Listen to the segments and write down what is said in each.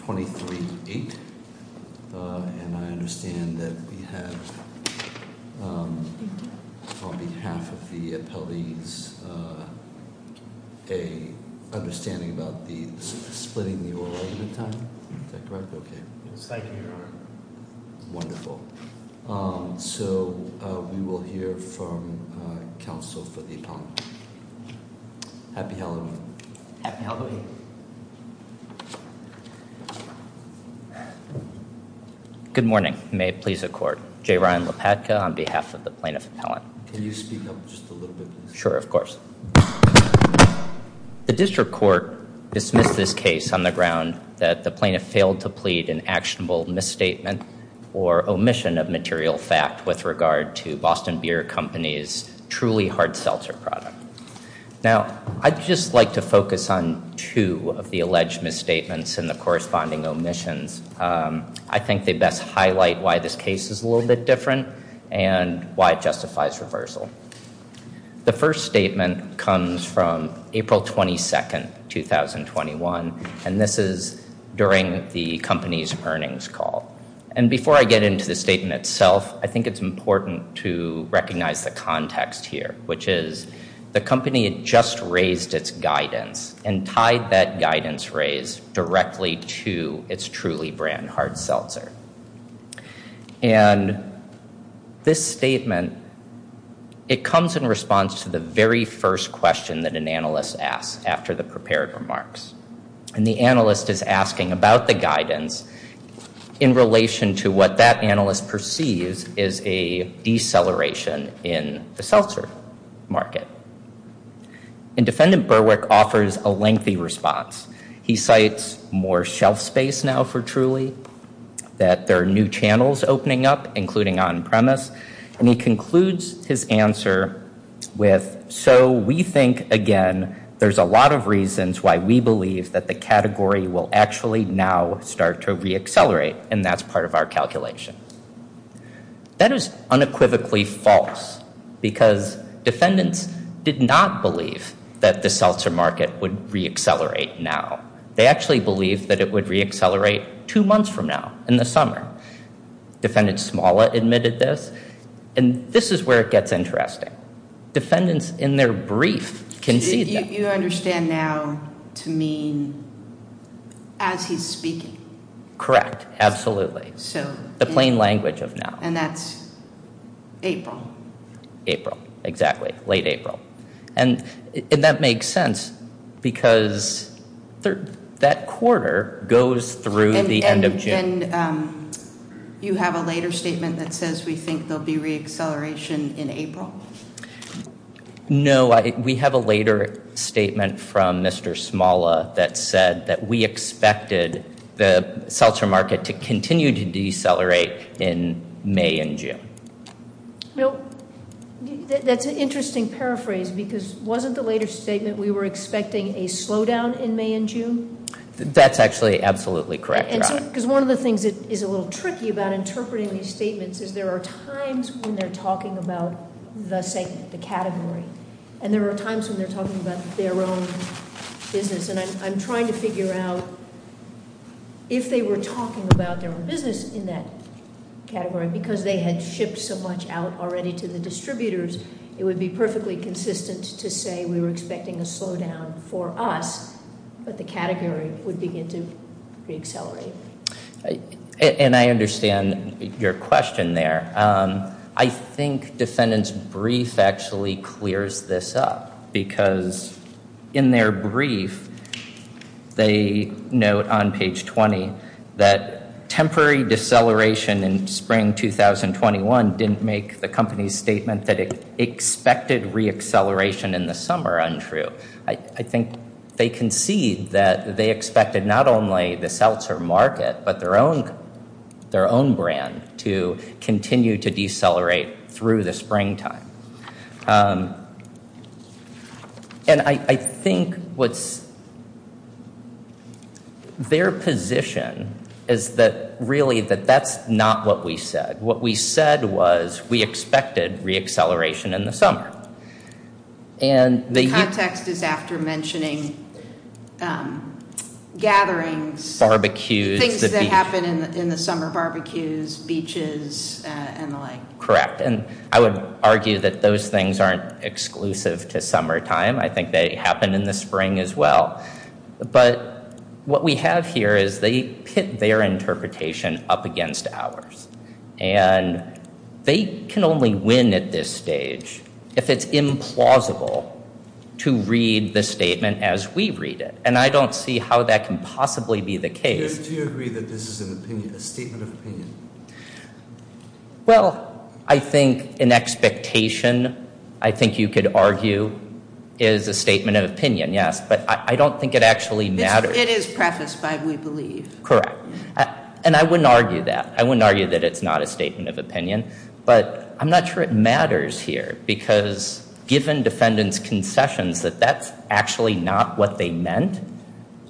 23-8. And I understand that we have, on behalf of the appellees, a understanding about the splitting the oral argument time? Is that correct? Okay. It's like an hour. Wonderful. So we will hear from counsel for the appellant. Happy Halloween. Happy Halloween. Good morning. May it please the Court. J. Ryan Lopatka on behalf of the plaintiff appellant. Can you speak up just a little bit, please? Sure, of course. The district court dismissed this case on the ground that the plaintiff failed to plead an actionable misstatement or omission of material fact with regard to Boston Beer Company's truly hard seltzer product. Now, I'd just like to focus on two of the alleged misstatements and the corresponding omissions. I think they best highlight why this case is a little bit different and why it justifies reversal. The first statement comes from April 22, 2021, and this is during the company's earnings call. And before I get into the statement itself, I think it's important to recognize the context here, which is the company had just raised its guidance and tied that guidance raise directly to its truly brand hard seltzer. And this statement, it comes in response to the very first question that an analyst asks after the prepared remarks. And the analyst is asking about the guidance in relation to what that analyst perceives is a deceleration in the seltzer market. And Defendant Berwick offers a lengthy response. He cites more shelf space now for truly, that there are new channels opening up, including on premise. And he concludes his answer with, so we think, again, there's a lot of reasons why we believe that the category will actually now start to reaccelerate. And that's part of our calculation. That is unequivocally false because defendants did not believe that the seltzer market would reaccelerate now. They actually believed that it would reaccelerate two months from now in the summer. Defendant Smala admitted this. And this is where it gets interesting. Defendants in their brief concede that. You understand now to mean as he's speaking. Correct. Absolutely. So the plain language of now. And that's April. April. Exactly. Late April. And that makes sense because that quarter goes through the end of June. And you have a later statement that says we think there'll be reacceleration in April. No, we have a later statement from Mr. Smala that said that we expected the seltzer market to continue to decelerate in May and June. No, that's an interesting paraphrase because wasn't the later statement we were expecting a slowdown in May and June. That's actually absolutely correct. Because one of the things that is a little tricky about interpreting these statements is there are times when they're talking about the segment, the category. And there are times when they're talking about their own business. And I'm trying to figure out if they were talking about their own business in that category because they had shipped so much out already to the distributors, it would be perfectly consistent to say we were expecting a slowdown for us. But the category would begin to reaccelerate. And I understand your question there. I think defendant's brief actually clears this up. Because in their brief, they note on page 20 that temporary deceleration in spring 2021 didn't make the company's statement that it expected reacceleration in the summer untrue. I think they concede that they expected not only the seltzer market but their own brand to continue to decelerate through the springtime. And I think what's their position is that really that that's not what we said. What we said was we expected reacceleration in the summer. The context is after mentioning gatherings, things that happen in the summer, barbecues, beaches, and the like. Correct. And I would argue that those things aren't exclusive to summertime. I think they happen in the spring as well. But what we have here is they pit their interpretation up against ours. And they can only win at this stage if it's implausible to read the statement as we read it. And I don't see how that can possibly be the case. Do you agree that this is an opinion, a statement of opinion? Well, I think an expectation, I think you could argue, is a statement of opinion, yes. But I don't think it actually matters. It is prefaced by we believe. Correct. And I wouldn't argue that. I wouldn't argue that it's not a statement of opinion. But I'm not sure it matters here because given defendants' concessions that that's actually not what they meant,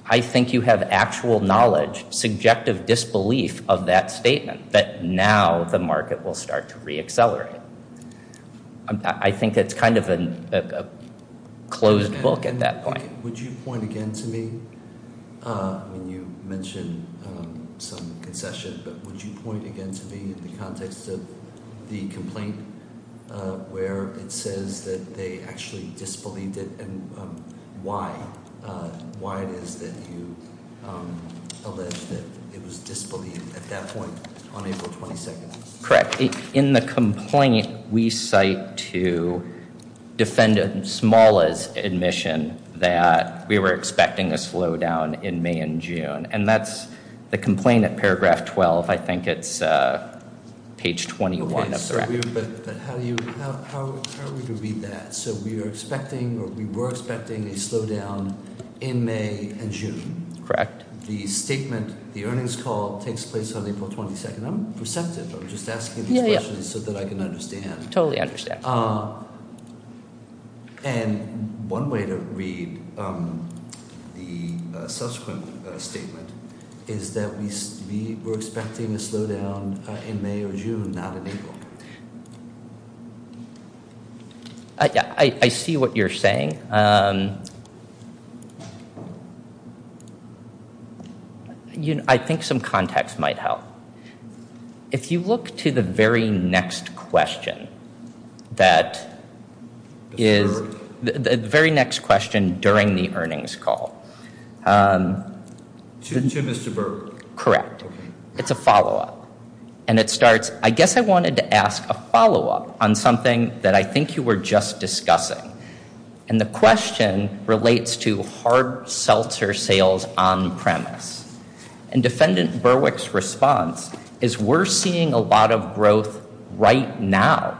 I think you have actual knowledge, subjective disbelief of that statement that now the market will start to reaccelerate. I think it's kind of a closed book at that point. Mike, would you point again to me? I mean, you mentioned some concession, but would you point again to me in the context of the complaint where it says that they actually disbelieved it and why? Why it is that you allege that it was disbelieved at that point on April 22nd? Correct. In the complaint, we cite to defendant Smalla's admission that we were expecting a slowdown in May and June. And that's the complaint at paragraph 12. I think it's page 21. Okay, but how are we to read that? So we were expecting a slowdown in May and June. Correct. The statement, the earnings call takes place on April 22nd. I'm perceptive. I'm just asking these questions so that I can understand. Totally understand. And one way to read the subsequent statement is that we were expecting a slowdown in May or June, not in April. I see what you're saying. Okay. I think some context might help. If you look to the very next question that is the very next question during the earnings call. To Mr. Berg? Correct. It's a follow-up. And it starts, I guess I wanted to ask a follow-up on something that I think you were just discussing. And the question relates to hard seltzer sales on premise. And defendant Berwick's response is we're seeing a lot of growth right now.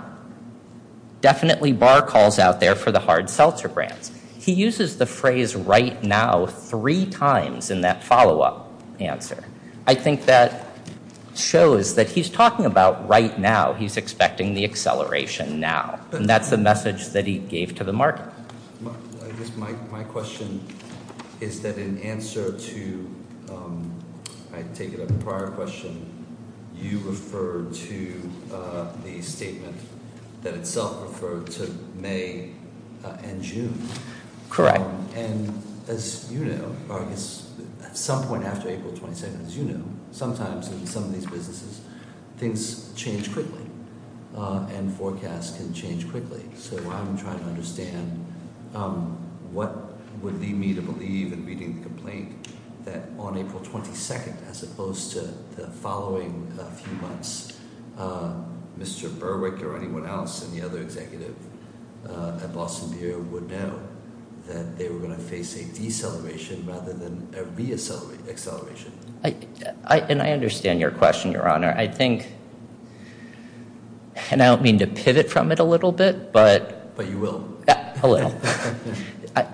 Definitely bar calls out there for the hard seltzer brands. He uses the phrase right now three times in that follow-up answer. I think that shows that he's talking about right now. He's expecting the acceleration now. And that's the message that he gave to the market. My question is that in answer to, I take it a prior question, you referred to the statement that itself referred to May and June. Correct. And as you know, at some point after April 22nd, as you know, sometimes in some of these businesses, things change quickly. And forecasts can change quickly. So I'm trying to understand what would lead me to believe in reading the complaint that on April 22nd, as opposed to the following few months, Mr. Berwick or anyone else and the other executive at Boston Beer would know that they were going to face a deceleration rather than a reacceleration. And I understand your question, Your Honor. I think, and I don't mean to pivot from it a little bit. But you will. A little.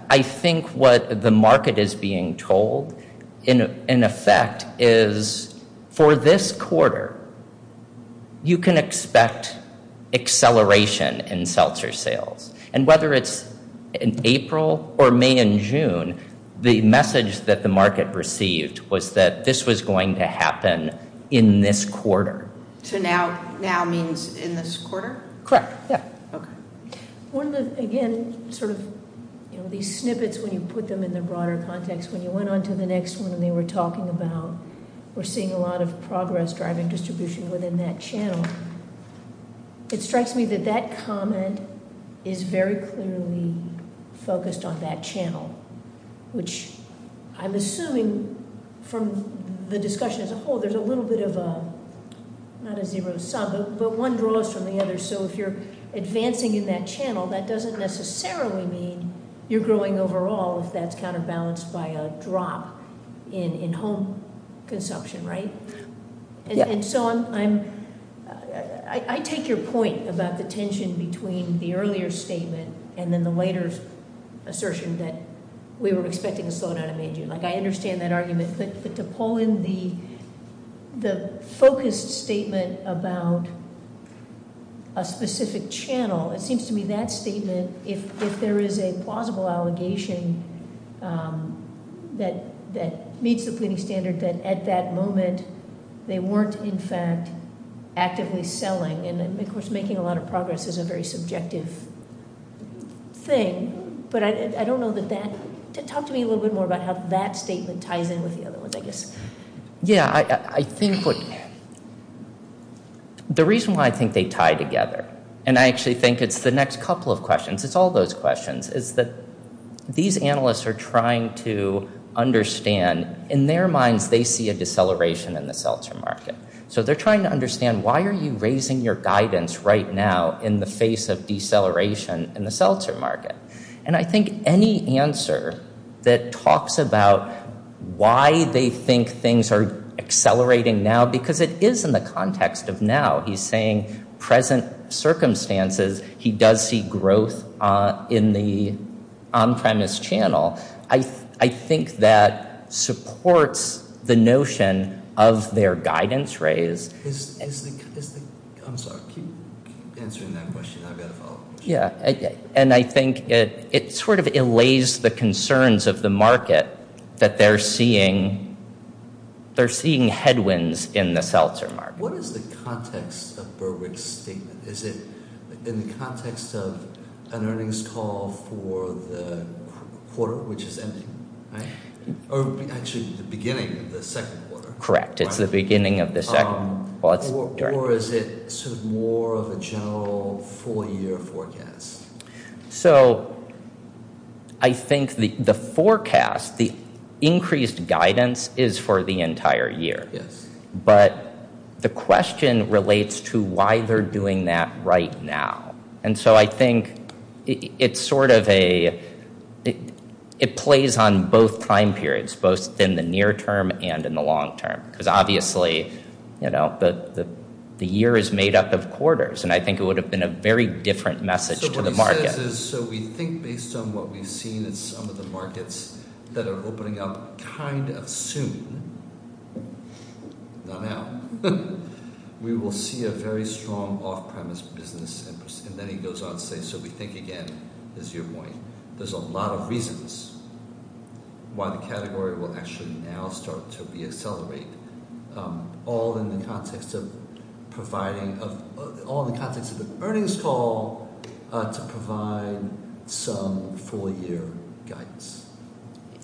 I think what the market is being told, in effect, is for this quarter, you can expect acceleration in seltzer sales. And whether it's in April or May and June, the message that the market received was that this was going to happen in this quarter. So now means in this quarter? Correct. Yeah. Okay. One of the, again, sort of these snippets, when you put them in the broader context, when you went on to the next one and they were talking about, we're seeing a lot of progress driving distribution within that channel. It strikes me that that comment is very clearly focused on that channel, which I'm assuming from the discussion as a whole, there's a little bit of a, not a zero sum, but one draws from the other. So if you're advancing in that channel, that doesn't necessarily mean you're growing overall if that's counterbalanced by a drop in home consumption. Right? Yeah. And so I'm, I take your point about the tension between the earlier statement and then the later assertion that we were expecting a slowdown in May and June. Like, I understand that argument, but to pull in the focused statement about a specific channel, it seems to me that statement, if there is a plausible allegation that meets the pleading standard, that at that moment they weren't in fact actively selling, and of course making a lot of progress is a very subjective thing. But I don't know that that, talk to me a little bit more about how that statement ties in with the other ones, I guess. Yeah, I think what, the reason why I think they tie together, and I actually think it's the next couple of questions, it's all those questions, is that these analysts are trying to understand, in their minds they see a deceleration in the seltzer market. So they're trying to understand why are you raising your guidance right now in the face of deceleration in the seltzer market? And I think any answer that talks about why they think things are accelerating now, because it is in the context of now, he's saying present circumstances, he does see growth in the on-premise channel, I think that supports the notion of their guidance raise. I'm sorry, keep answering that question, I've got a follow-up question. Yeah, and I think it sort of allays the concerns of the market that they're seeing headwinds in the seltzer market. What is the context of Berwick's statement? Is it in the context of an earnings call for the quarter, which is ending? Or actually, the beginning of the second quarter. Correct, it's the beginning of the second quarter. Or is it sort of more of a general four-year forecast? So, I think the forecast, the increased guidance is for the entire year. Yes. But the question relates to why they're doing that right now. And so I think it's sort of a – it plays on both time periods, both in the near term and in the long term. Because obviously, you know, the year is made up of quarters, and I think it would have been a very different message to the market. What he says is, so we think based on what we've seen in some of the markets that are opening up kind of soon, not now, we will see a very strong off-premise business. And then he goes on to say, so we think again, is your point. There's a lot of reasons why the category will actually now start to re-accelerate, all in the context of providing – all in the context of the earnings call to provide some full-year guidance.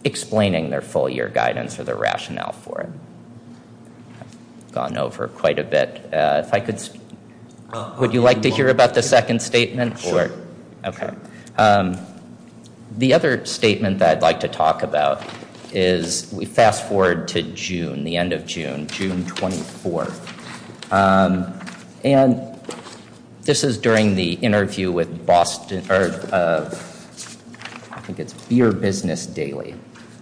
Explaining their full-year guidance or their rationale for it. I've gone over quite a bit. If I could – would you like to hear about the second statement? Sure. Okay. The other statement that I'd like to talk about is – we fast-forward to June, the end of June, June 24th. And this is during the interview with Boston – I think it's Beer Business Daily.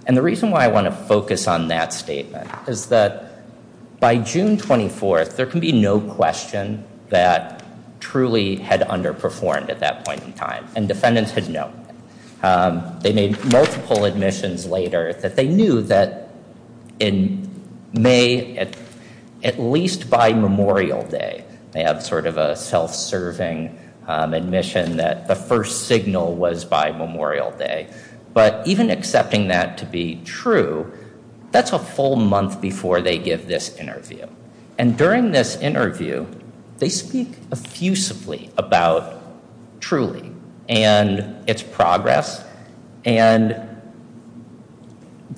And the reason why I want to focus on that statement is that by June 24th, there can be no question that Truly had underperformed at that point in time. And defendants had known. They made multiple admissions later that they knew that in May, at least by Memorial Day, they had sort of a self-serving admission that the first signal was by Memorial Day. But even accepting that to be true, that's a full month before they give this interview. And during this interview, they speak effusively about Truly and its progress. And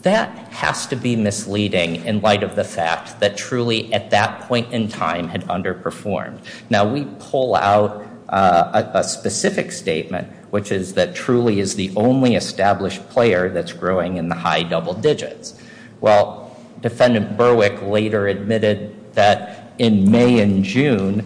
that has to be misleading in light of the fact that Truly, at that point in time, had underperformed. Now, we pull out a specific statement, which is that Truly is the only established player that's growing in the high double digits. Well, Defendant Berwick later admitted that in May and June,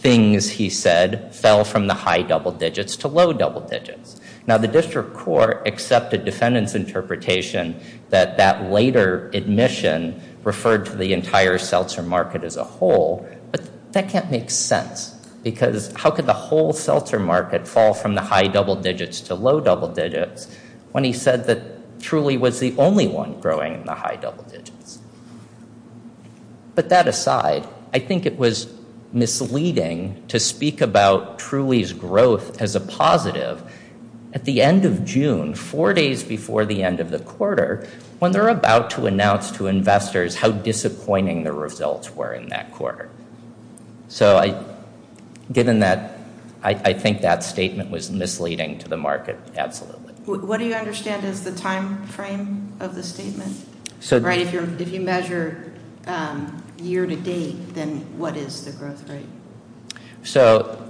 things, he said, fell from the high double digits to low double digits. Now, the district court accepted Defendant's interpretation that that later admission referred to the entire seltzer market as a whole. But that can't make sense. Because how could the whole seltzer market fall from the high double digits to low double digits when he said that Truly was the only one growing in the high double digits? But that aside, I think it was misleading to speak about Truly's growth as a positive at the end of June, four days before the end of the quarter, when they're about to announce to investors how disappointing the results were in that quarter. So given that, I think that statement was misleading to the market, absolutely. What do you understand is the time frame of the statement? Right, if you measure year to date, then what is the growth rate? So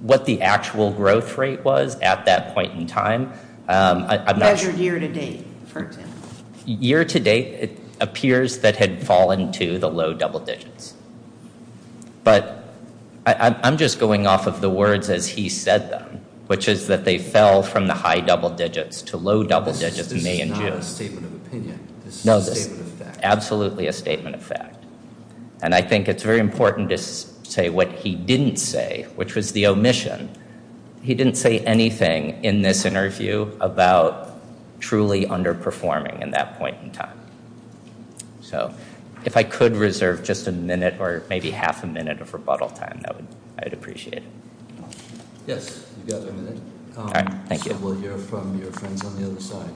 what the actual growth rate was at that point in time. Measured year to date, for example. Year to date, it appears that had fallen to the low double digits. But I'm just going off of the words as he said them, which is that they fell from the high double digits to low double digits in May and June. This is not a statement of opinion. No, this is absolutely a statement of fact. And I think it's very important to say what he didn't say, which was the omission. He didn't say anything in this interview about Truly underperforming in that point in time. So if I could reserve just a minute or maybe half a minute of rebuttal time, I'd appreciate it. Yes, you've got a minute. Thank you. We'll hear from your friends on the other side.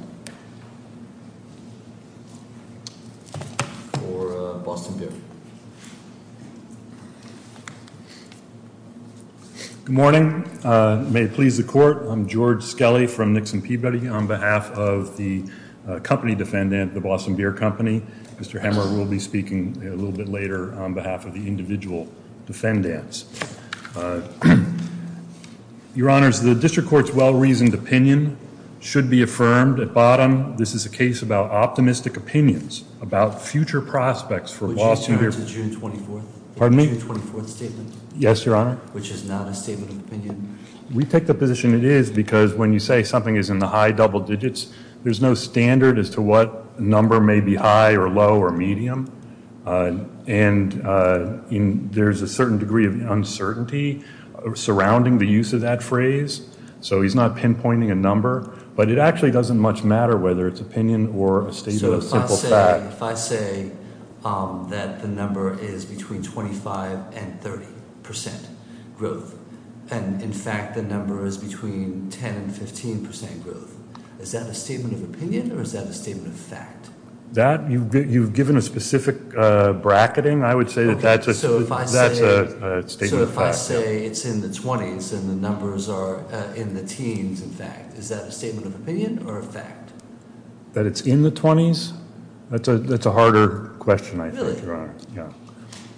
For Boston Beer. Good morning. May it please the court, I'm George Skelly from Nixon Peabody. On behalf of the company defendant, the Boston Beer Company. Mr. Hemmer will be speaking a little bit later on behalf of the individual defendants. Your honors, the district court's well-reasoned opinion should be affirmed at bottom. This is a case about optimistic opinions about future prospects for Boston Beer. Would you return to June 24th? Pardon me? June 24th statement. Yes, your honor. Which is not a statement of opinion. We take the position it is because when you say something is in the high double digits, there's no standard as to what number may be high or low or medium. And there's a certain degree of uncertainty surrounding the use of that phrase. So he's not pinpointing a number. But it actually doesn't much matter whether it's opinion or a statement of simple fact. If I say that the number is between 25% and 30% growth, and, in fact, the number is between 10% and 15% growth, is that a statement of opinion or is that a statement of fact? You've given a specific bracketing. I would say that that's a statement of fact. So if I say it's in the 20s and the numbers are in the teens, in fact, is that a statement of opinion or a fact? That it's in the 20s? That's a harder question, I thought, your honor. Really?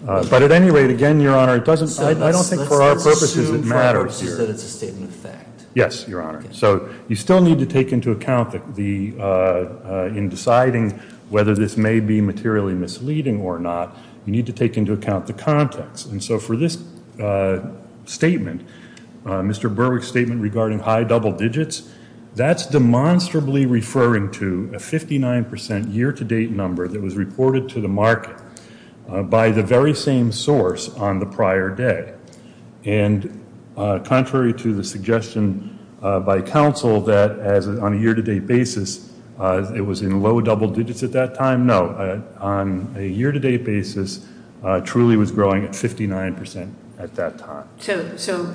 Yeah. But at any rate, again, your honor, I don't think for our purposes it matters here. So let's assume for our purposes that it's a statement of fact. Yes, your honor. So you still need to take into account in deciding whether this may be materially misleading or not, you need to take into account the context. And so for this statement, Mr. Berwick's statement regarding high double digits, that's demonstrably referring to a 59% year-to-date number that was reported to the market by the very same source on the prior day. And contrary to the suggestion by counsel that on a year-to-date basis it was in low double digits at that time, no. On a year-to-date basis, truly was growing at 59% at that time. So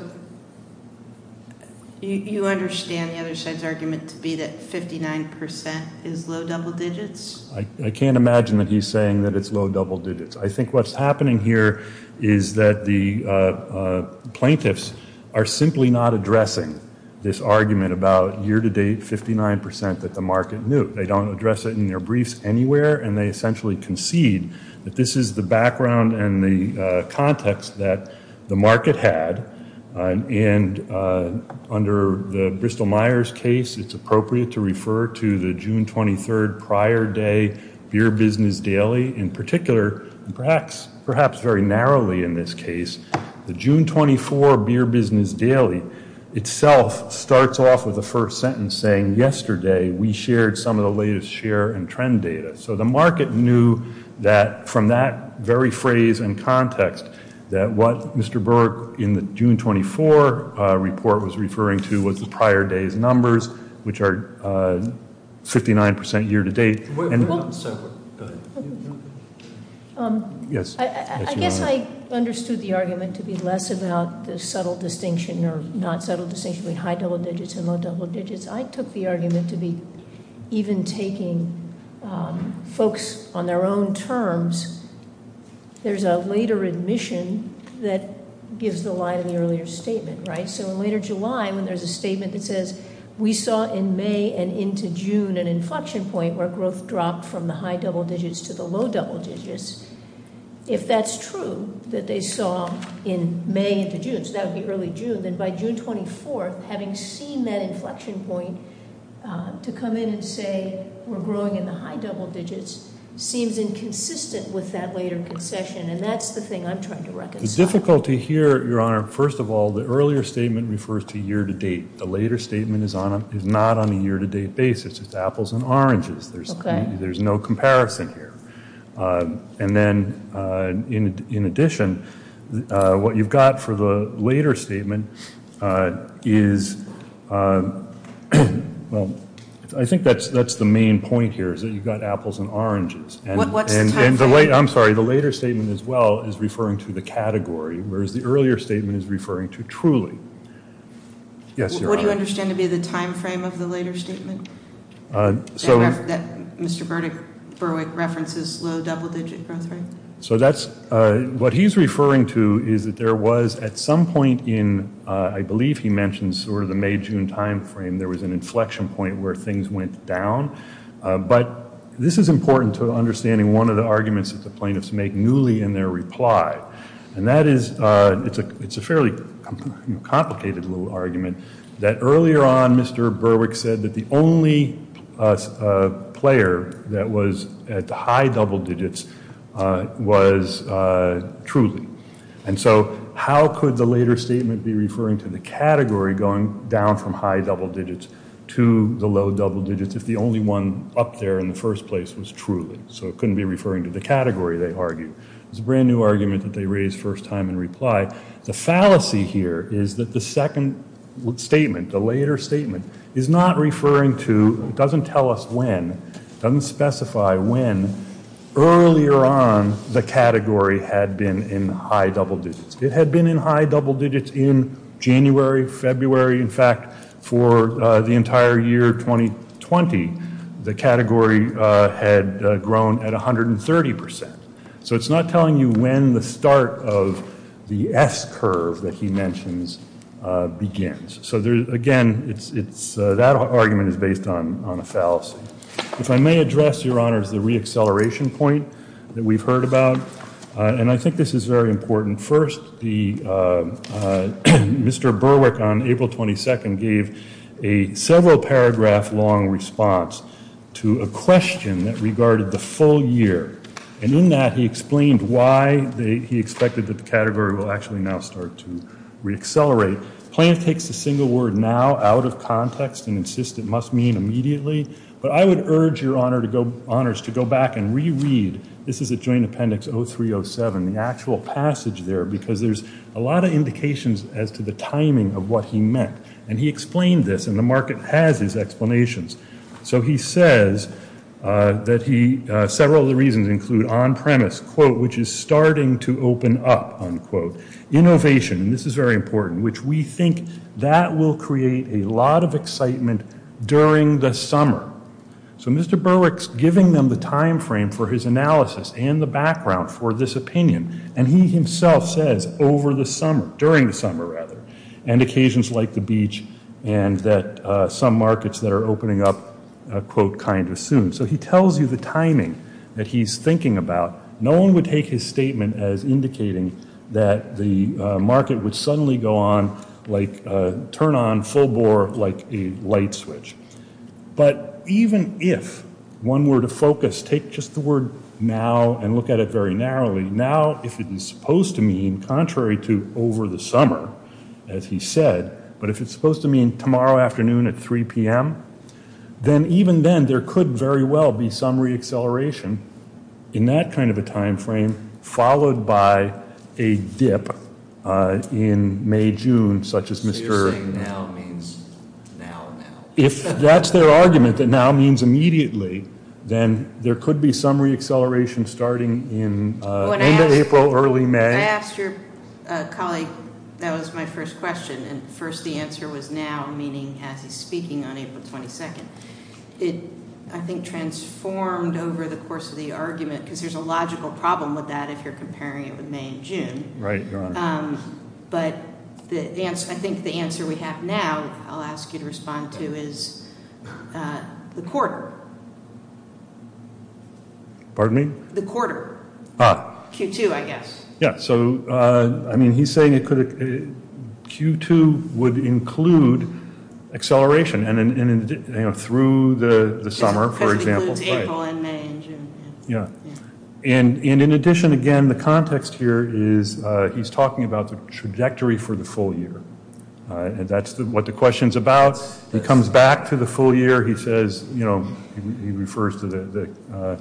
you understand the other side's argument to be that 59% is low double digits? I can't imagine that he's saying that it's low double digits. I think what's happening here is that the plaintiffs are simply not addressing this argument about year-to-date 59% that the market knew. They don't address it in their briefs anywhere. And they essentially concede that this is the background and the context that the market had. And under the Bristol-Myers case, it's appropriate to refer to the June 23rd prior day Beer Business Daily. In particular, perhaps very narrowly in this case, the June 24 Beer Business Daily itself starts off with a first sentence saying, yesterday we shared some of the latest share and trend data. So the market knew that from that very phrase and context that what Mr. Burke in the June 24 report was referring to was the prior day's numbers, which are 59% year-to-date. Yes. I guess I understood the argument to be less about the subtle distinction or not subtle distinction between high double digits and low double digits. I took the argument to be even taking folks on their own terms. There's a later admission that gives the line in the earlier statement, right? So in later July, when there's a statement that says, we saw in May and into June an inflection point where growth dropped from the high double digits to the low double digits. If that's true, that they saw in May into June, so that would be early June, then by June 24th, having seen that inflection point to come in and say we're growing in the high double digits seems inconsistent with that later concession. And that's the thing I'm trying to reconcile. The difficulty here, Your Honor, first of all, the earlier statement refers to year-to-date. The later statement is not on a year-to-date basis. It's apples and oranges. There's no comparison here. And then in addition, what you've got for the later statement is, well, I think that's the main point here is that you've got apples and oranges. What's the timeframe? I'm sorry. The later statement as well is referring to the category, whereas the earlier statement is referring to truly. Yes, Your Honor. What do you understand to be the timeframe of the later statement that Mr. Berwick references, low double digit growth rate? So that's what he's referring to is that there was at some point in, I believe he mentioned sort of the May-June timeframe, there was an inflection point where things went down. But this is important to understanding one of the arguments that the plaintiffs make newly in their reply. And that is, it's a fairly complicated little argument that earlier on Mr. Berwick said that the only player that was at the high double digits was truly. And so how could the later statement be referring to the category going down from high double digits to the low double digits if the only one up there in the first place was truly? So it couldn't be referring to the category, they argue. It's a brand new argument that they raise first time in reply. The fallacy here is that the second statement, the later statement is not referring to, doesn't tell us when, doesn't specify when earlier on the category had been in high double digits. It had been in high double digits in January, February. In fact, for the entire year 2020, the category had grown at 130%. So it's not telling you when the start of the S curve that he mentions begins. So again, that argument is based on a fallacy. If I may address, Your Honors, the reacceleration point that we've heard about, and I think this is very important. First, Mr. Berwick on April 22nd gave a several paragraph long response to a question that regarded the full year. And in that, he explained why he expected that the category will actually now start to reaccelerate. Plant takes a single word now out of context and insists it must mean immediately. But I would urge, Your Honors, to go back and reread, this is a joint appendix 0307, the actual passage there, because there's a lot of indications as to the timing of what he meant. And he explained this, and the market has his explanations. So he says that he, several of the reasons include on premise, quote, which is starting to open up, unquote. Innovation, and this is very important, which we think that will create a lot of excitement during the summer. So Mr. Berwick's giving them the timeframe for his analysis and the background for this opinion. And he himself says over the summer, during the summer rather, and occasions like the beach and that some markets that are opening up, quote, kind of soon. So he tells you the timing that he's thinking about. No one would take his statement as indicating that the market would suddenly go on, like, turn on full bore like a light switch. But even if one were to focus, take just the word now and look at it very narrowly, now, if it is supposed to mean contrary to over the summer, as he said, but if it's supposed to mean tomorrow afternoon at 3 p.m., then even then, there could very well be some reacceleration in that kind of a timeframe, followed by a dip in May, June, such as Mr. Now means now, now. If that's their argument, that now means immediately, then there could be some reacceleration starting in end of April, early May. I asked your colleague, that was my first question. And first the answer was now, meaning as he's speaking on April 22nd. It, I think, transformed over the course of the argument, because there's a logical problem with that if you're comparing it with May and June. Right, Your Honor. But I think the answer we have now, I'll ask you to respond to, is the quarter. Pardon me? The quarter. Ah. Q2, I guess. Yeah. So, I mean, he's saying it could, Q2 would include acceleration, and through the summer, for example. Because it includes April and May and June. Yeah. And in addition, again, the context here is he's talking about the trajectory for the full year. And that's what the question's about. He comes back to the full year. He says, you know, he refers to the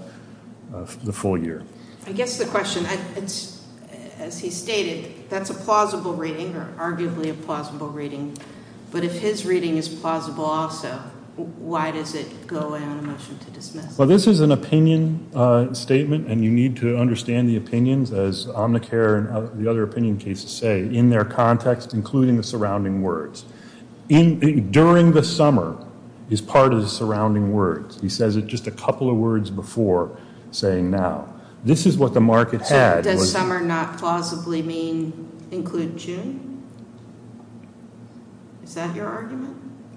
full year. I guess the question, as he stated, that's a plausible reading, or arguably a plausible reading. But if his reading is plausible also, why does it go away on a motion to dismiss? Well, this is an opinion statement, and you need to understand the opinions, as Omnicare and the other opinion cases say, in their context, including the surrounding words. During the summer is part of the surrounding words. He says it just a couple of words before saying now. This is what the market said. Does summer not plausibly mean include June? Is that your argument?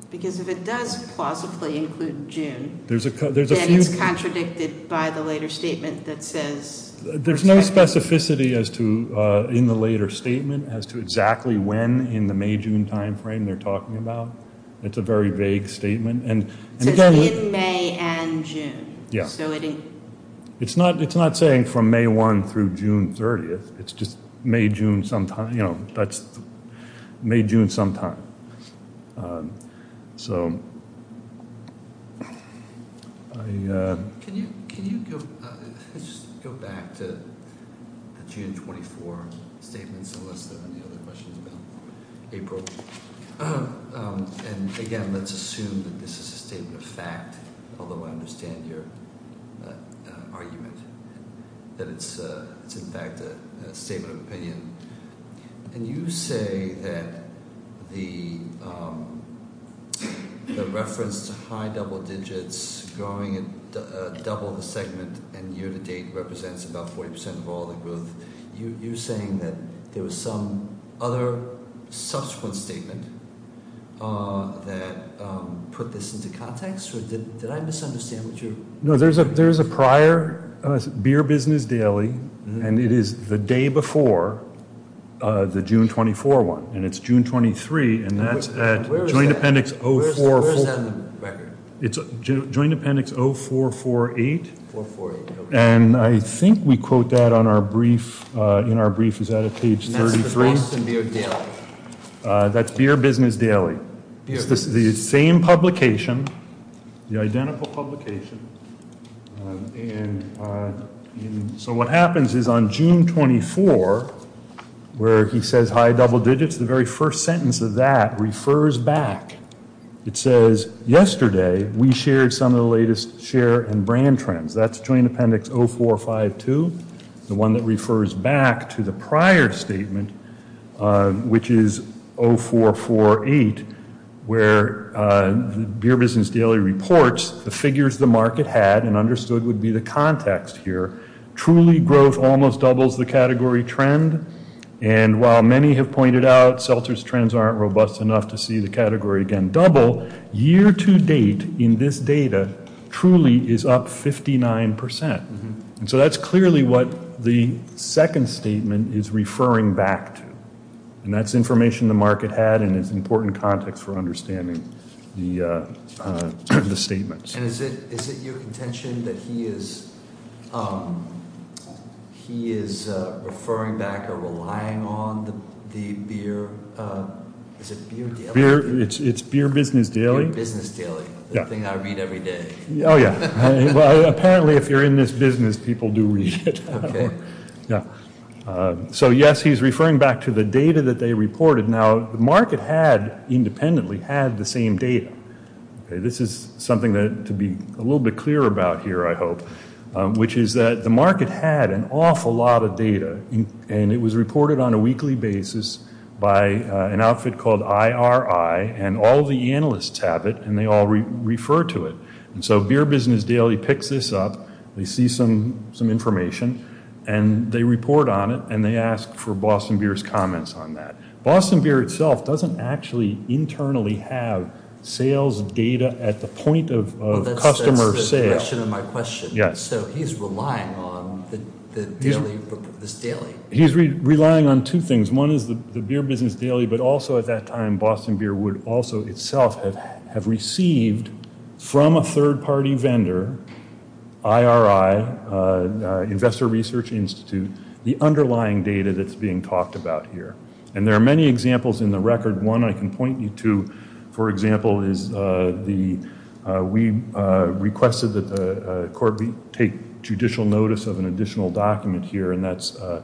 Because if it does plausibly include June, then it's contradicted by the later statement that says. There's no specificity in the later statement as to exactly when in the May-June timeframe they're talking about. It's a very vague statement. It says in May and June. Yes. It's not saying from May 1 through June 30th. It's just May-June sometime. You know, that's May-June sometime. So. Can you go back to the June 24 statements, unless there are any other questions about April? And, again, let's assume that this is a statement of fact, although I understand your argument that it's, in fact, a statement of opinion. And you say that the reference to high double digits growing at double the segment and year-to-date represents about 40% of all the growth. You're saying that there was some other subsequent statement that put this into context? Or did I misunderstand what you're- No, there's a prior Beer Business Daily, and it is the day before the June 24 one. And it's June 23, and that's at Joint Appendix 044- Where is that in the record? It's Joint Appendix 0448. 0448. And I think we quote that in our brief. Is that at page 33? That's the Boston Beer Daily. That's Beer Business Daily. It's the same publication, the identical publication. So what happens is on June 24, where he says high double digits, the very first sentence of that refers back. It says, yesterday we shared some of the latest share and brand trends. That's Joint Appendix 0452, the one that refers back to the prior statement, which is 0448, where the Beer Business Daily reports the figures the market had and understood would be the context here. Truly growth almost doubles the category trend. And while many have pointed out Seltzer's trends aren't robust enough to see the category again double, year to date in this data truly is up 59%. And so that's clearly what the second statement is referring back to. And that's information the market had and is important context for understanding the statements. And is it your intention that he is referring back or relying on the beer? Is it Beer Daily? It's Beer Business Daily. Beer Business Daily, the thing I read every day. Oh, yeah. Well, apparently if you're in this business, people do read it. Okay. Yeah. So, yes, he's referring back to the data that they reported. Now, the market had independently had the same data. Okay. This is something to be a little bit clearer about here, I hope, which is that the market had an awful lot of data. And it was reported on a weekly basis by an outfit called IRI. And all the analysts have it. And they all refer to it. And so Beer Business Daily picks this up. They see some information. And they report on it. And they ask for Boston Beer's comments on that. Boston Beer itself doesn't actually internally have sales data at the point of customer sales. Well, that's the direction of my question. Yes. So he's relying on this daily. He's relying on two things. One is the Beer Business Daily, but also at that time Boston Beer would also itself have received from a third-party vendor, IRI, Investor Research Institute, the underlying data that's being talked about here. And there are many examples in the record. One I can point you to, for example, is we requested that the court take judicial notice of an additional document here. And that's an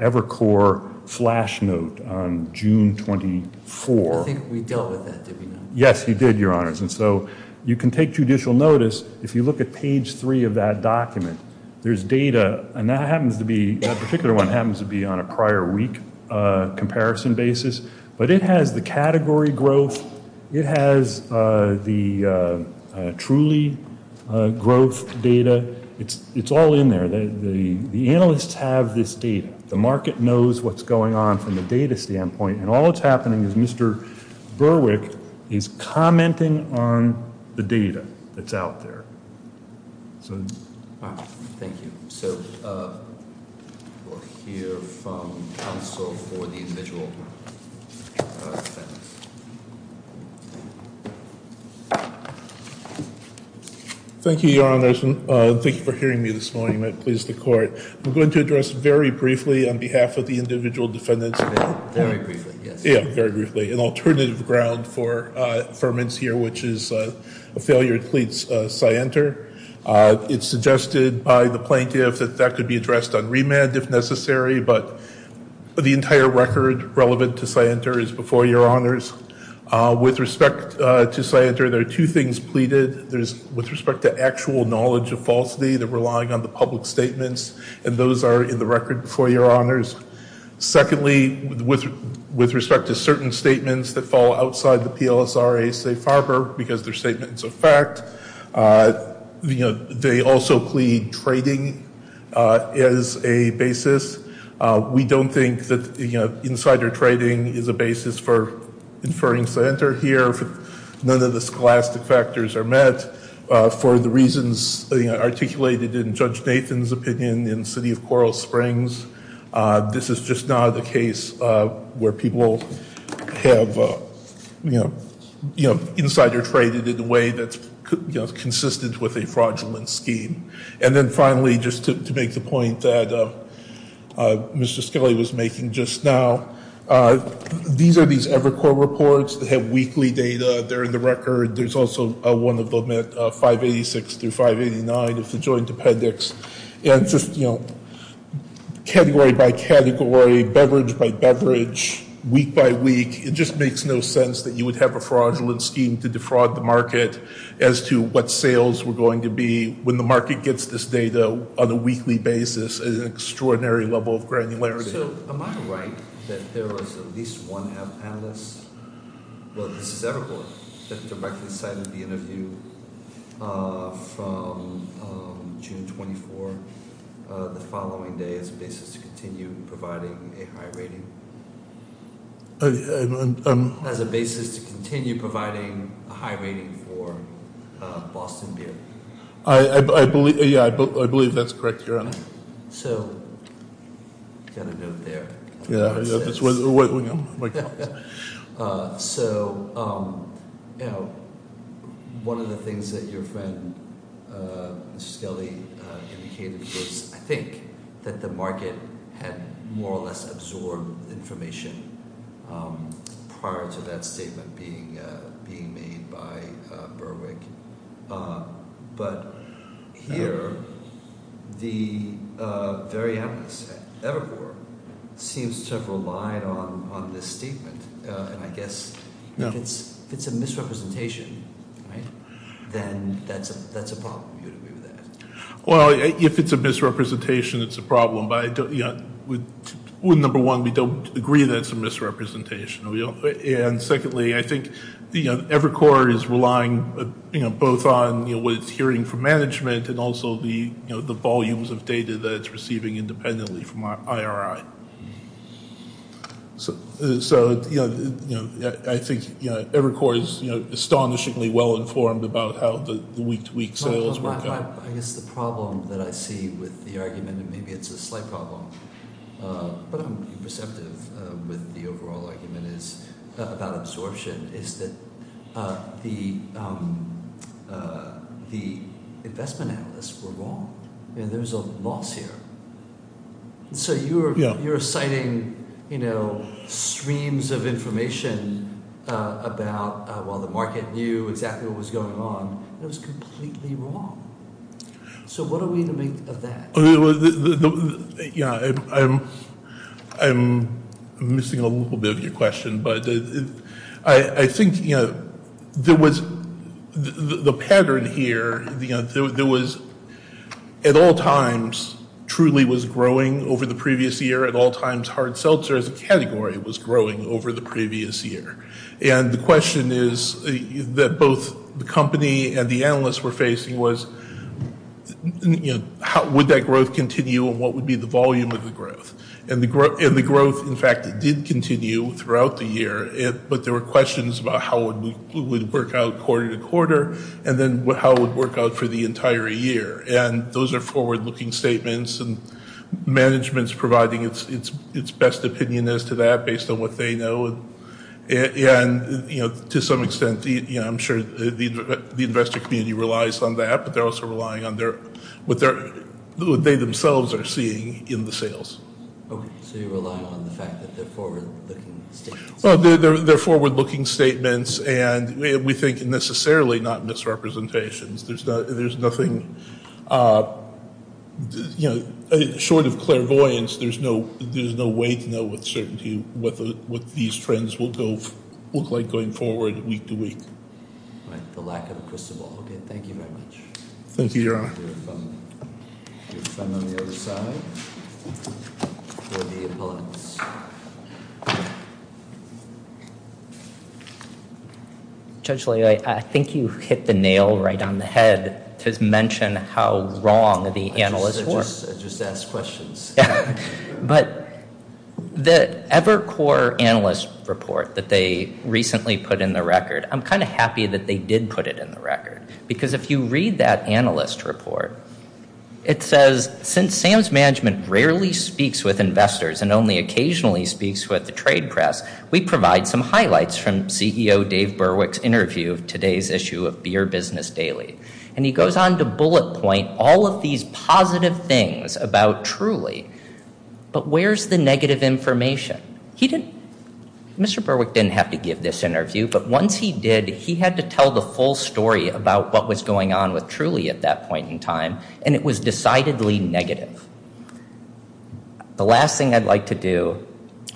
Evercore flash note on June 24. I think we dealt with that, did we not? Yes, you did, Your Honors. And so you can take judicial notice. If you look at page three of that document, there's data, and that particular one happens to be on a prior week comparison basis. But it has the category growth. It has the truly growth data. It's all in there. The analysts have this data. The market knows what's going on from the data standpoint. And all that's happening is Mr. Berwick is commenting on the data that's out there. Thank you. So we'll hear from counsel for the individual defendants. Thank you, Your Honors, and thank you for hearing me this morning. I'm pleased to court. I'm going to address very briefly on behalf of the individual defendants. Very briefly, yes. Yeah, very briefly. An alternative ground for affirmance here, which is a failure to pleads scienter. It's suggested by the plaintiff that that could be addressed on remand if necessary. But the entire record relevant to scienter is before Your Honors. With respect to scienter, there are two things pleaded. There's with respect to actual knowledge of falsity, the relying on the public statements. And those are in the record before Your Honors. Secondly, with respect to certain statements that fall outside the PLSRA safe harbor because they're statements of fact, they also plead trading is a basis. We don't think that insider trading is a basis for inferring scienter here. None of the scholastic factors are met for the reasons articulated in Judge Nathan's opinion in City of Coral Springs. This is just not the case where people have insider traded in a way that's consistent with a fraudulent scheme. And then finally, just to make the point that Mr. Scully was making just now, these are these Evercore reports that have weekly data. They're in the record. There's also one of them at 586 through 589 of the joint appendix. And just category by category, beverage by beverage, week by week, it just makes no sense that you would have a fraudulent scheme to defraud the market as to what sales were going to be when the market gets this data on a weekly basis at an extraordinary level of granularity. So am I right that there was at least one analyst, well, this is Evercore, that directly cited the interview from June 24, the following day as a basis to continue providing a high rating? As a basis to continue providing a high rating for Boston Beer? I believe that's correct, Your Honor. So, got a note there. Yeah. So, one of the things that your friend, Mr. Scully, indicated was, I think that the market had more or less absorbed information prior to that statement being made by Berwick. But here, the very analyst at Evercore seems to have relied on this statement. And I guess if it's a misrepresentation, right, then that's a problem. Do you agree with that? Well, if it's a misrepresentation, it's a problem. But number one, we don't agree that it's a misrepresentation. And secondly, I think Evercore is relying both on what it's hearing from management and also the volumes of data that it's receiving independently from IRI. So I think Evercore is astonishingly well informed about how the week-to-week sales work out. I guess the problem that I see with the argument, and maybe it's a slight problem, but I'm being perceptive with the overall argument about absorption, is that the investment analysts were wrong. There was a loss here. So you're citing streams of information about while the market knew exactly what was going on, and it was completely wrong. So what are we to make of that? Yeah, I'm missing a little bit of your question. But I think, you know, there was the pattern here, you know, there was at all times Truly was growing over the previous year, at all times Hard Seltzer as a category was growing over the previous year. And the question is that both the company and the analysts were facing was, you know, would that growth continue and what would be the volume of the growth? And the growth, in fact, did continue throughout the year, but there were questions about how it would work out quarter to quarter and then how it would work out for the entire year. And those are forward-looking statements, and management is providing its best opinion as to that based on what they know. And, you know, to some extent, I'm sure the investor community relies on that, but they're also relying on what they themselves are seeing in the sales. Okay, so you're relying on the fact that they're forward-looking statements. Well, they're forward-looking statements, and we think necessarily not misrepresentations. There's nothing, you know, short of clairvoyance. There's no way to know with certainty what these trends will look like going forward week to week. All right, the lack of a crystal ball. Okay, thank you very much. Thank you, Your Honor. Your friend on the other side for the appellants. Judge Leo, I think you hit the nail right on the head to mention how wrong the analysts were. I just asked questions. But the Evercore analyst report that they recently put in the record, I'm kind of happy that they did put it in the record, because if you read that analyst report, it says since Sam's management rarely speaks with investors and only occasionally speaks with the trade press, we provide some highlights from CEO Dave Berwick's interview of today's issue of Beer Business Daily. And he goes on to bullet point all of these positive things about Truly, but where's the negative information? Mr. Berwick didn't have to give this interview, but once he did, he had to tell the full story about what was going on with Truly at that point in time, and it was decidedly negative. The last thing I'd like to do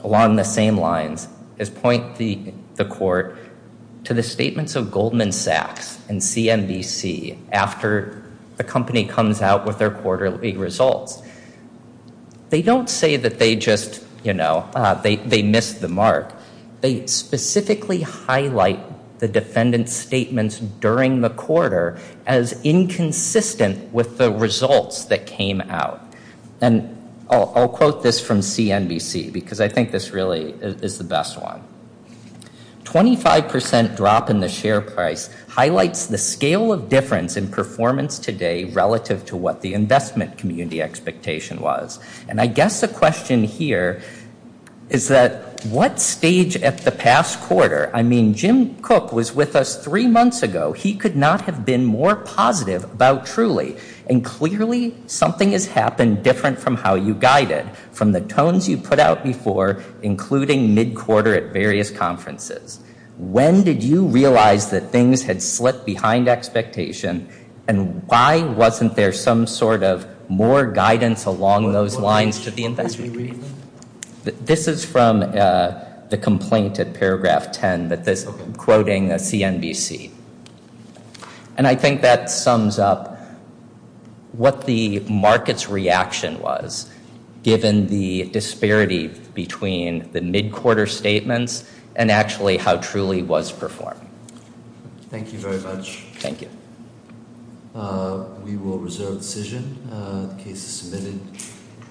along the same lines is point the court to the statements of Goldman Sachs and CNBC after the company comes out with their quarterly results. They don't say that they just, you know, they missed the mark. They specifically highlight the defendant's statements during the quarter as inconsistent with the results that came out. And I'll quote this from CNBC, because I think this really is the best one. Twenty-five percent drop in the share price highlights the scale of difference in performance today relative to what the investment community expectation was. And I guess the question here is that what stage at the past quarter? I mean, Jim Cook was with us three months ago. He could not have been more positive about Truly. And clearly something has happened different from how you guided, from the tones you put out before, including mid-quarter at various conferences. When did you realize that things had slipped behind expectation, and why wasn't there some sort of more guidance along those lines to the investment community? This is from the complaint at paragraph 10, quoting CNBC. And I think that sums up what the market's reaction was, given the disparity between the mid-quarter statements and actually how Truly was performed. Thank you very much. Thank you. We will reserve the decision. The case is submitted.